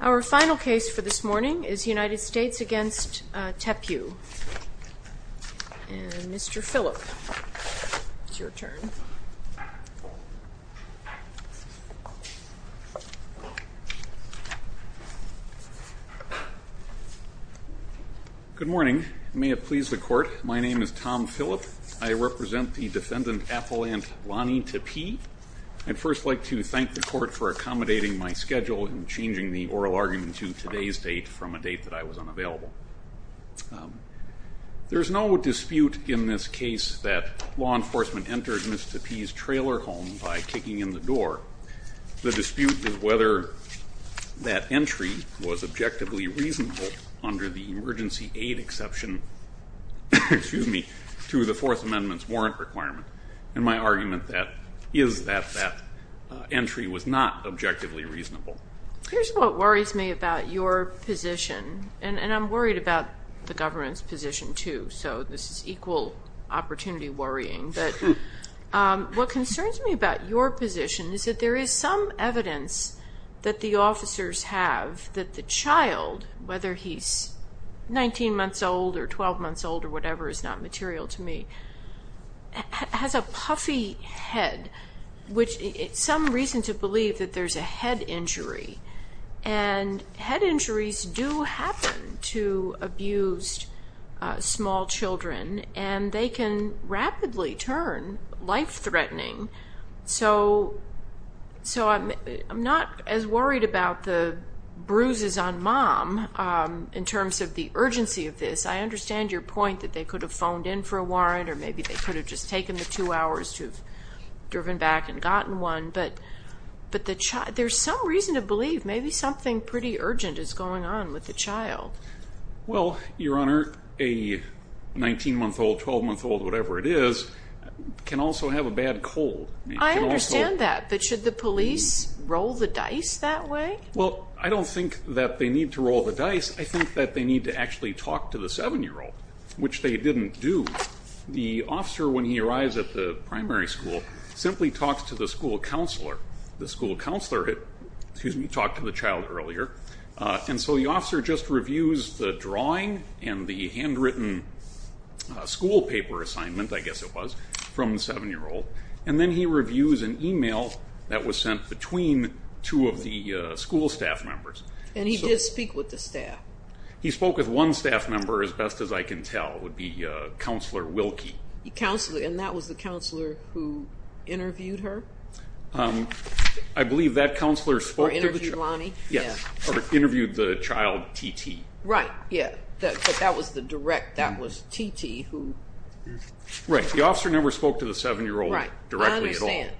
Our final case for this morning is United States v. Tepiew. Mr. Phillip, it's your turn. Good morning. May it please the Court, my name is Tom Phillip. I represent the defendant, Appelant Loni Tepiew. I'd first like to thank the Court for accommodating my schedule and changing the oral argument to today's date from a date that I was unavailable. There's no dispute in this case that law enforcement entered Ms. Tepiew's trailer home by kicking in the door. The dispute is whether that entry was objectively reasonable under the emergency aid exception to the Fourth Amendment's warrant requirement. And my argument is that that entry was not objectively reasonable. Here's what worries me about your position, and I'm worried about the government's position, too, so this is equal opportunity worrying. But what concerns me about your position is that there is some evidence that the officers have that the child, whether he's 19 months old or 12 months old or whatever is not material to me, has a puffy head, which is some reason to believe that there's a head injury. And head injuries do happen to abused small children, and they can rapidly turn life-threatening. So I'm not as worried about the bruises on mom in terms of the urgency of this. I understand your point that they could have phoned in for a warrant, or maybe they could have just taken the two hours to have driven back and gotten one. But there's some reason to believe maybe something pretty urgent is going on with the child. Well, Your Honor, a 19-month-old, 12-month-old, whatever it is, can also have a bad cold. I understand that, but should the police roll the dice that way? Well, I don't think that they need to roll the dice. I think that they need to actually talk to the 7-year-old, which they didn't do. The officer, when he arrives at the primary school, simply talks to the school counselor. The school counselor talked to the child earlier, and so the officer just reviews the drawing and the handwritten school paper assignment, I guess it was, from the 7-year-old, and then he reviews an e-mail that was sent between two of the school staff members. And he did speak with the staff? He spoke with one staff member, as best as I can tell. It would be Counselor Wilkie. And that was the counselor who interviewed her? I believe that counselor spoke to the child. Or interviewed Lonnie? Yes, or interviewed the child, T.T. Right, yeah, but that was the direct, that was T.T. who? Right, the officer never spoke to the 7-year-old directly at all. Right, I understand.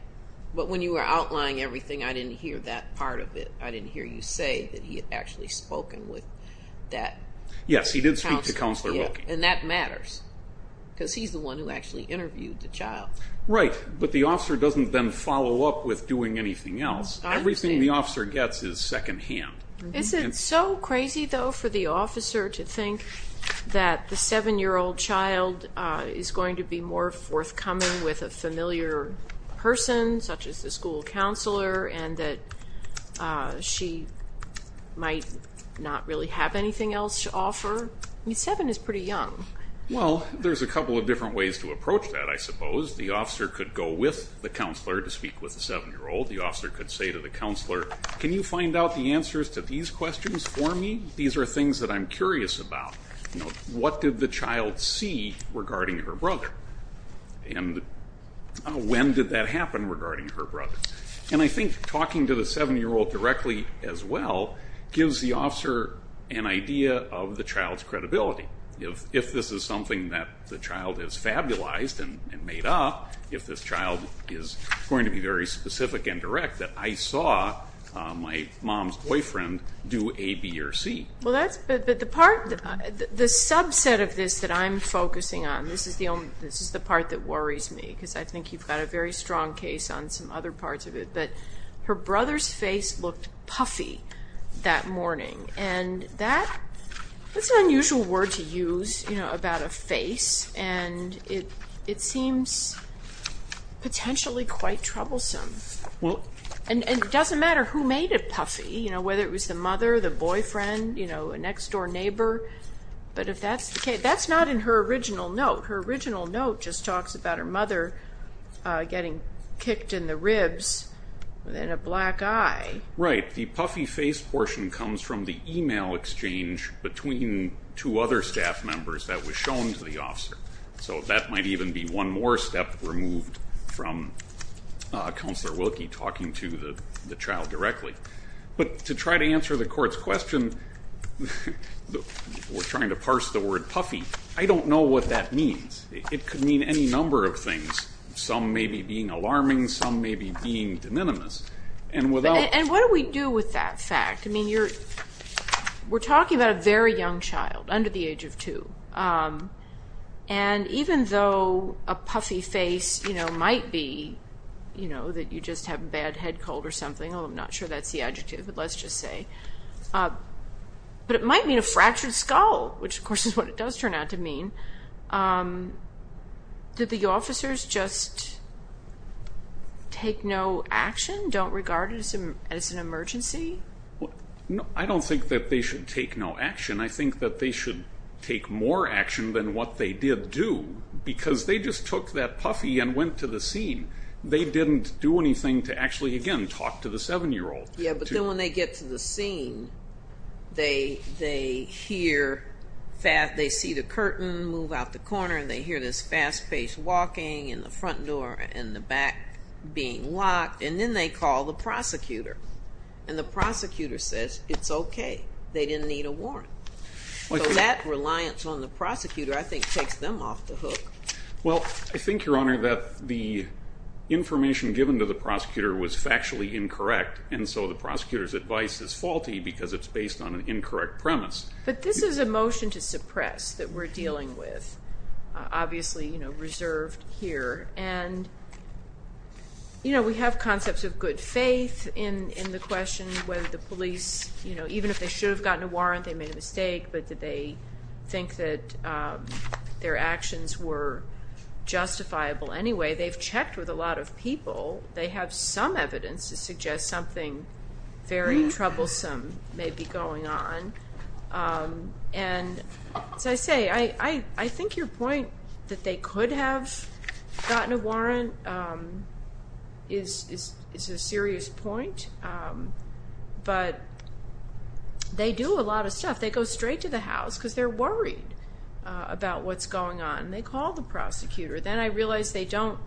But when you were outlining everything, I didn't hear that part of it. I didn't hear you say that he had actually spoken with that counselor. Yes, he did speak to Counselor Wilkie. And that matters, because he's the one who actually interviewed the child. Right, but the officer doesn't then follow up with doing anything else. Everything the officer gets is secondhand. Is it so crazy, though, for the officer to think that the 7-year-old child is going to be more forthcoming with a familiar person, such as the school counselor, and that she might not really have anything else to offer? I mean, 7 is pretty young. Well, there's a couple of different ways to approach that, I suppose. The officer could go with the counselor to speak with the 7-year-old. The officer could say to the counselor, can you find out the answers to these questions for me? These are things that I'm curious about. What did the child see regarding her brother? And when did that happen regarding her brother? And I think talking to the 7-year-old directly as well gives the officer an idea of the child's credibility. If this is something that the child has fabulized and made up, if this child is going to be very specific and direct, that I saw my mom's boyfriend do A, B, or C. But the subset of this that I'm focusing on, this is the part that worries me, because I think you've got a very strong case on some other parts of it, but her brother's face looked puffy that morning. That's an unusual word to use about a face, and it seems potentially quite troublesome. It doesn't matter who made it puffy, whether it was the mother, the boyfriend, a next-door neighbor. That's not in her original note. Her original note just talks about her mother getting kicked in the ribs with a black eye. Right. The puffy face portion comes from the e-mail exchange between two other staff members that was shown to the officer. So that might even be one more step removed from Counselor Wilkie talking to the child directly. But to try to answer the court's question, we're trying to parse the word puffy, I don't know what that means. It could mean any number of things. Some may be being alarming, some may be being de minimis. And what do we do with that fact? I mean, we're talking about a very young child, under the age of two, and even though a puffy face might be that you just have a bad head cold or something, although I'm not sure that's the adjective, but let's just say. But it might mean a fractured skull, which, of course, is what it does turn out to mean. Did the officers just take no action? Don't regard it as an emergency? I don't think that they should take no action. I think that they should take more action than what they did do because they just took that puffy and went to the scene. They didn't do anything to actually, again, talk to the 7-year-old. Yeah, but then when they get to the scene, they hear, they see the curtain move out the corner, and they hear this fast-paced walking and the front door and the back being locked, and then they call the prosecutor, and the prosecutor says it's okay. They didn't need a warrant. So that reliance on the prosecutor, I think, takes them off the hook. Well, I think, Your Honor, that the information given to the prosecutor was factually incorrect, and so the prosecutor's advice is faulty because it's based on an incorrect premise. But this is a motion to suppress that we're dealing with, obviously reserved here. And we have concepts of good faith in the question whether the police, even if they should have gotten a warrant, they made a mistake, but did they think that their actions were justifiable anyway. They've checked with a lot of people. They have some evidence to suggest something very troublesome may be going on. And as I say, I think your point that they could have gotten a warrant is a serious point, but they do a lot of stuff. They go straight to the house because they're worried about what's going on, and they call the prosecutor. Then I realize they don't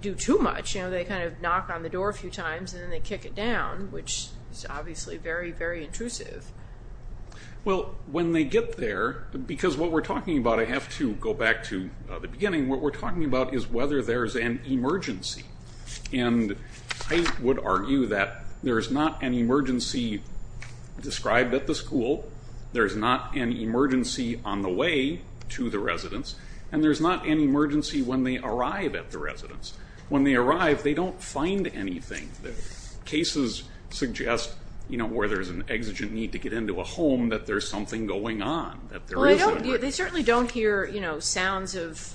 do too much. They kind of knock on the door a few times, and then they kick it down, which is obviously very, very intrusive. Well, when they get there, because what we're talking about, I have to go back to the beginning, what we're talking about is whether there's an emergency. And I would argue that there's not an emergency described at the school, there's not an emergency on the way to the residence, and there's not an emergency when they arrive at the residence. When they arrive, they don't find anything. Cases suggest where there's an exigent need to get into a home, that there's something going on. They certainly don't hear sounds of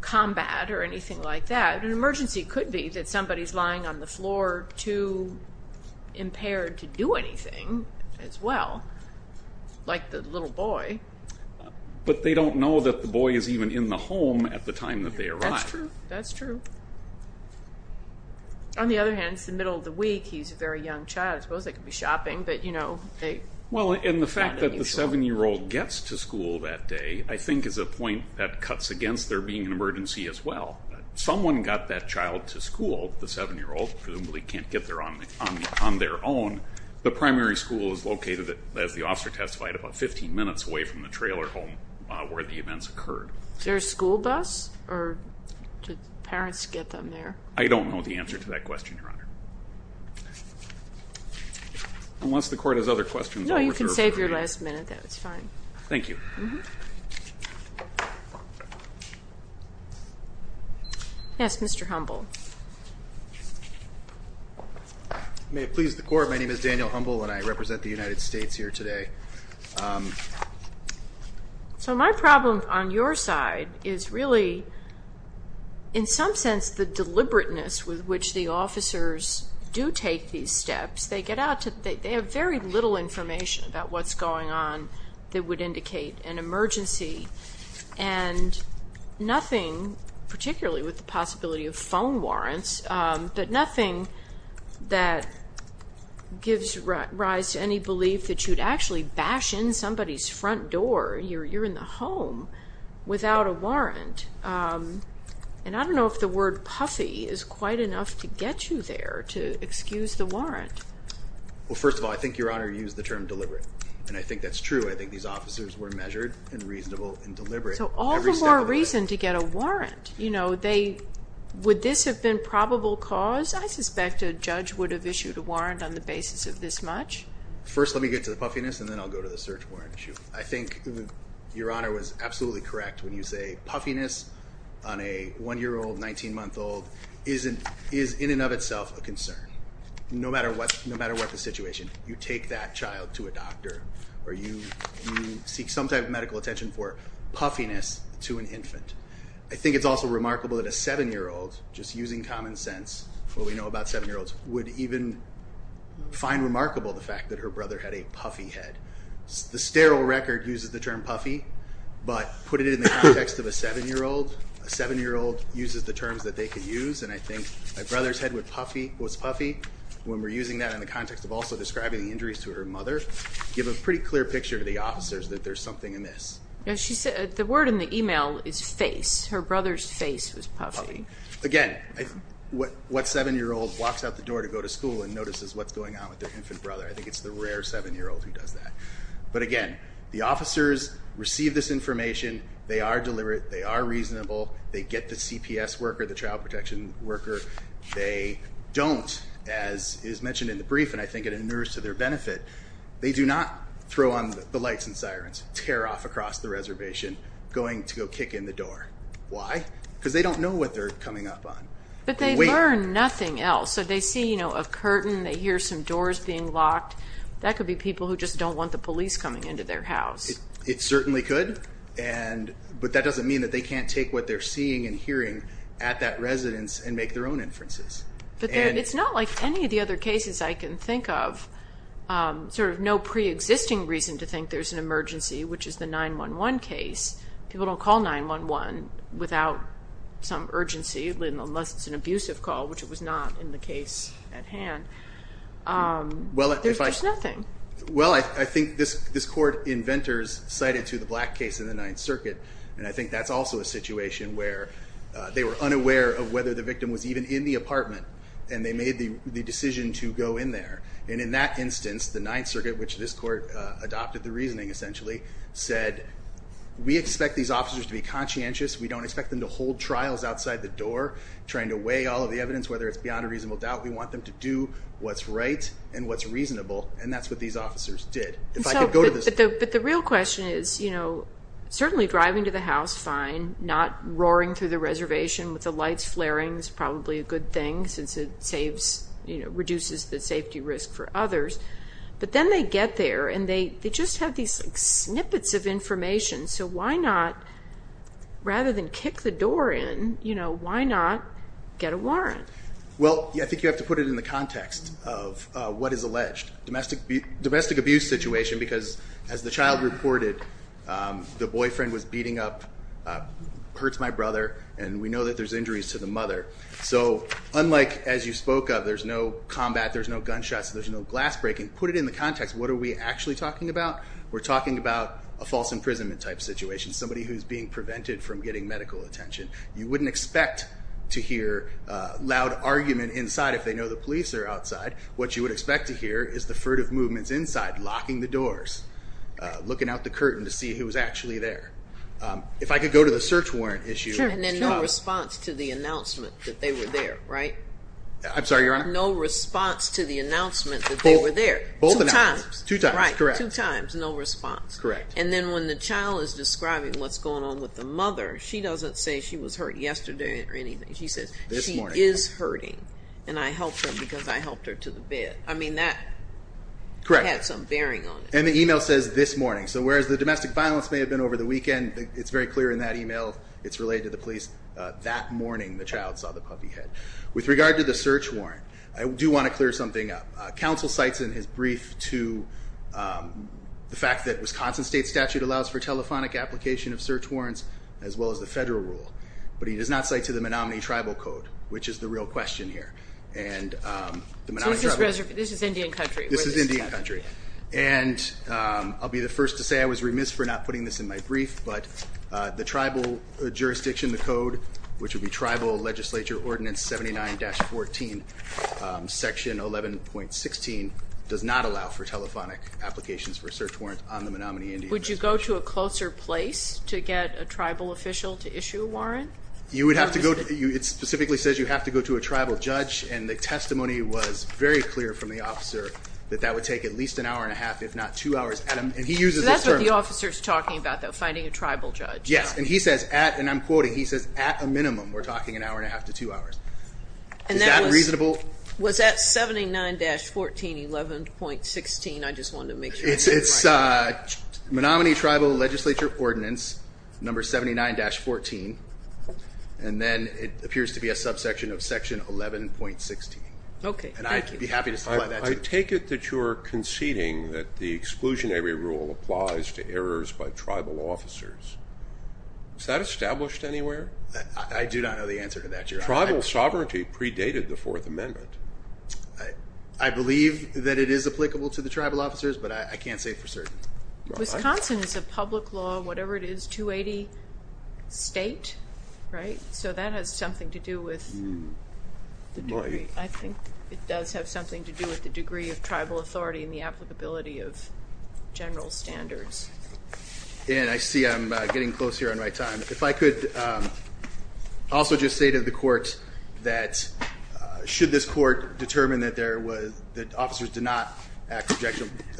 combat or anything like that. An emergency could be that somebody's lying on the floor, too impaired to do anything as well, like the little boy. But they don't know that the boy is even in the home at the time that they arrive. That's true. On the other hand, it's the middle of the week. He's a very young child. I suppose they could be shopping. And the fact that the 7-year-old gets to school that day I think is a point that cuts against there being an emergency as well. Someone got that child to school, the 7-year-old, presumably can't get there on their own. The primary school is located, as the officer testified, about 15 minutes away from the trailer home where the events occurred. Is there a school bus, or did parents get them there? I don't know the answer to that question, Your Honor. Unless the Court has other questions. No, you can save your last minute. That was fine. Thank you. Yes, Mr. Humble. May it please the Court, my name is Daniel Humble, and I represent the United States here today. So my problem on your side is really, in some sense, the deliberateness with which the officers do take these steps. They have very little information about what's going on that would indicate an emergency, and nothing, particularly with the possibility of phone warrants, but nothing that gives rise to any belief that you'd actually bash in somebody's front door, you're in the home, without a warrant. And I don't know if the word puffy is quite enough to get you there, to excuse the warrant. Well, first of all, I think Your Honor used the term deliberate, and I think that's true. I think these officers were measured and reasonable and deliberate. So all the more reason to get a warrant. Would this have been probable cause? I suspect a judge would have issued a warrant on the basis of this much. First, let me get to the puffiness, and then I'll go to the search warrant issue. I think Your Honor was absolutely correct when you say puffiness on a 1-year-old, 19-month-old, is in and of itself a concern. No matter what the situation, you take that child to a doctor, or you seek some type of medical attention for puffiness to an infant. I think it's also remarkable that a 7-year-old, just using common sense, what we know about 7-year-olds, would even find remarkable the fact that her brother had a puffy head. The sterile record uses the term puffy, but put it in the context of a 7-year-old, a 7-year-old uses the terms that they could use. And I think a brother's head was puffy. When we're using that in the context of also describing injuries to her mother, give a pretty clear picture to the officers that there's something amiss. The word in the email is face. Her brother's face was puffy. Again, what 7-year-old walks out the door to go to school and notices what's going on with their infant brother? I think it's the rare 7-year-old who does that. But again, the officers receive this information. They are deliberate. They are reasonable. They get the CPS worker, the child protection worker. They don't, as is mentioned in the brief, and I think it inures to their benefit, they do not throw on the lights and sirens, tear off across the reservation, going to go kick in the door. Why? Because they don't know what they're coming up on. But they learn nothing else. So they see, you know, a curtain. They hear some doors being locked. That could be people who just don't want the police coming into their house. It certainly could. But that doesn't mean that they can't take what they're seeing and hearing at that residence and make their own inferences. But it's not like any of the other cases I can think of, sort of no preexisting reason to think there's an emergency, which is the 9-1-1 case. People don't call 9-1-1 without some urgency, unless it's an abusive call, which it was not in the case at hand. There's just nothing. Well, I think this Court inventors cited to the Black case in the Ninth Circuit, and I think that's also a situation where they were unaware of whether the victim was even in the apartment, and they made the decision to go in there. And in that instance, the Ninth Circuit, which this Court adopted the reasoning essentially, said, we expect these officers to be conscientious. We don't expect them to hold trials outside the door, trying to weigh all of the evidence, whether it's beyond a reasonable doubt. We want them to do what's right and what's reasonable, and that's what these officers did. But the real question is, you know, certainly driving to the house, fine, not roaring through the reservation with the lights flaring is probably a good thing, since it saves, you know, reduces the safety risk for others. But then they get there, and they just have these snippets of information. So why not, rather than kick the door in, you know, why not get a warrant? Well, I think you have to put it in the context of what is alleged. Domestic abuse situation, because as the child reported, the boyfriend was beating up, hurts my brother, and we know that there's injuries to the mother. So unlike as you spoke of, there's no combat, there's no gunshots, there's no glass breaking. Put it in the context. What are we actually talking about? We're talking about a false imprisonment type situation, somebody who's being prevented from getting medical attention. You wouldn't expect to hear loud argument inside if they know the police are outside. What you would expect to hear is the furtive movements inside, locking the doors, looking out the curtain to see who was actually there. If I could go to the search warrant issue. And then no response to the announcement that they were there, right? I'm sorry, Your Honor? No response to the announcement that they were there. Both announcements. Two times. Right, two times, no response. Correct. And then when the child is describing what's going on with the mother, she doesn't say she was hurt yesterday or anything. She says she is hurting, and I helped her because I helped her to the bed. I mean, that had some bearing on it. And the email says this morning. So whereas the domestic violence may have been over the weekend, it's very clear in that email, it's related to the police, that morning the child saw the puppy head. With regard to the search warrant, I do want to clear something up. Counsel cites in his brief to the fact that Wisconsin state statute allows for telephonic application of search warrants as well as the federal rule, but he does not cite to the Menominee Tribal Code, which is the real question here. So this is Indian country? This is Indian country. And I'll be the first to say I was remiss for not putting this in my brief, but the tribal jurisdiction, the code, which would be Tribal Legislature Ordinance 79-14, Section 11.16, does not allow for telephonic applications for a search warrant on the Menominee Indian Reservation. Would you go to a closer place to get a tribal official to issue a warrant? It specifically says you have to go to a tribal judge, and the testimony was very clear from the officer that that would take at least an hour and a half, if not two hours. And he uses this term. So that's what the officer is talking about, though, finding a tribal judge. Yes. And he says at, and I'm quoting, he says, at a minimum we're talking an hour and a half to two hours. Is that reasonable? Was that 79-14, 11.16? I just wanted to make sure. It's Menominee Tribal Legislature Ordinance number 79-14, and then it appears to be a subsection of Section 11.16. Okay. And I'd be happy to supply that to you. I take it that you're conceding that the exclusionary rule applies to errors by tribal officers. Is that established anywhere? I do not know the answer to that, Your Honor. Tribal sovereignty predated the Fourth Amendment. I believe that it is applicable to the tribal officers, but I can't say for certain. Wisconsin is a public law, whatever it is, 280 state, right? So that has something to do with the degree. I think it does have something to do with the degree of tribal authority and the applicability of general standards. And I see I'm getting close here on my time. If I could also just say to the court that should this court determine that officers do not act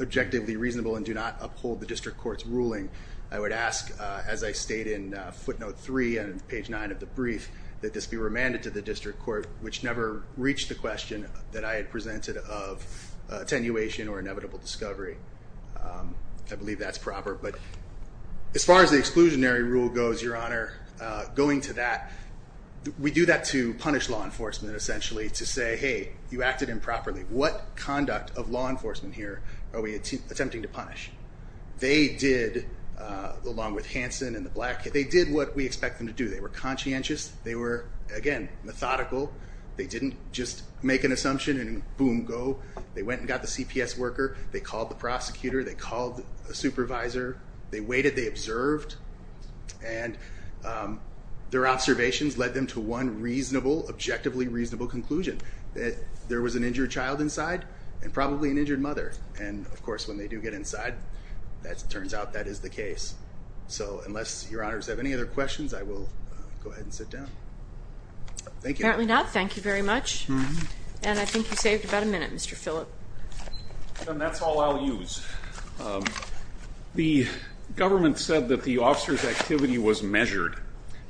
objectively reasonable and do not uphold the district court's ruling, I would ask, as I state in footnote three and page nine of the brief, that this be remanded to the district court, which never reached the question that I had presented of attenuation or inevitable discovery. I believe that's proper. But as far as the exclusionary rule goes, Your Honor, going to that, we do that to punish law enforcement, essentially, to say, hey, you acted improperly. What conduct of law enforcement here are we attempting to punish? They did, along with Hanson and the black kids, they did what we expect them to do. They were conscientious. They were, again, methodical. They didn't just make an assumption and boom, go. They went and got the CPS worker. They called the prosecutor. They called a supervisor. They waited. They observed. And their observations led them to one reasonable, objectively reasonable conclusion, that there was an injured child inside and probably an injured mother. And, of course, when they do get inside, it turns out that is the case. So unless Your Honor does have any other questions, I will go ahead and sit down. Thank you. Apparently not. Thank you very much. And I think you saved about a minute, Mr. Phillip. And that's all I'll use. The government said that the officer's activity was measured.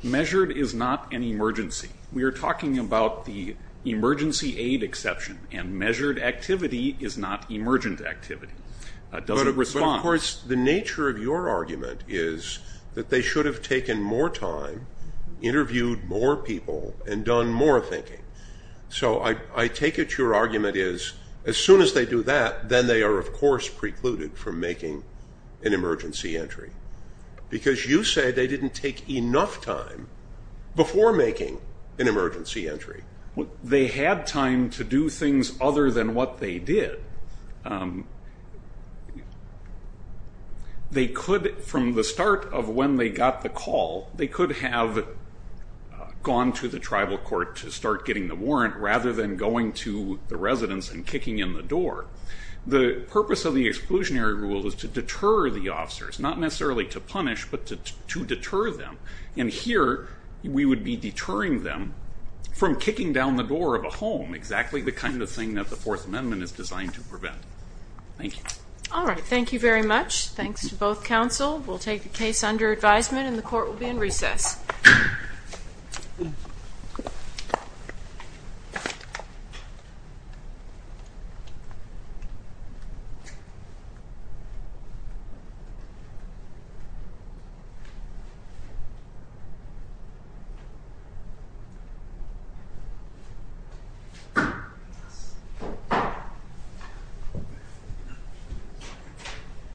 Measured is not an emergency. We are talking about the emergency aid exception, and measured activity is not emergent activity. It doesn't respond. But, of course, the nature of your argument is that they should have taken more time, interviewed more people, and done more thinking. So I take it your argument is as soon as they do that, then they are, of course, precluded from making an emergency entry. Because you say they didn't take enough time before making an emergency entry. They had time to do things other than what they did. They could, from the start of when they got the call, they could have gone to the tribal court to start getting the warrant rather than going to the residence and kicking in the door. The purpose of the exclusionary rule is to deter the officers, not necessarily to punish, but to deter them. And here we would be deterring them from kicking down the door of a home, exactly the kind of thing that the Fourth Amendment is designed to prevent. Thank you. All right. Thank you very much. Thanks to both counsel. We'll take the case under advisement, and the court will be in recess. Thank you.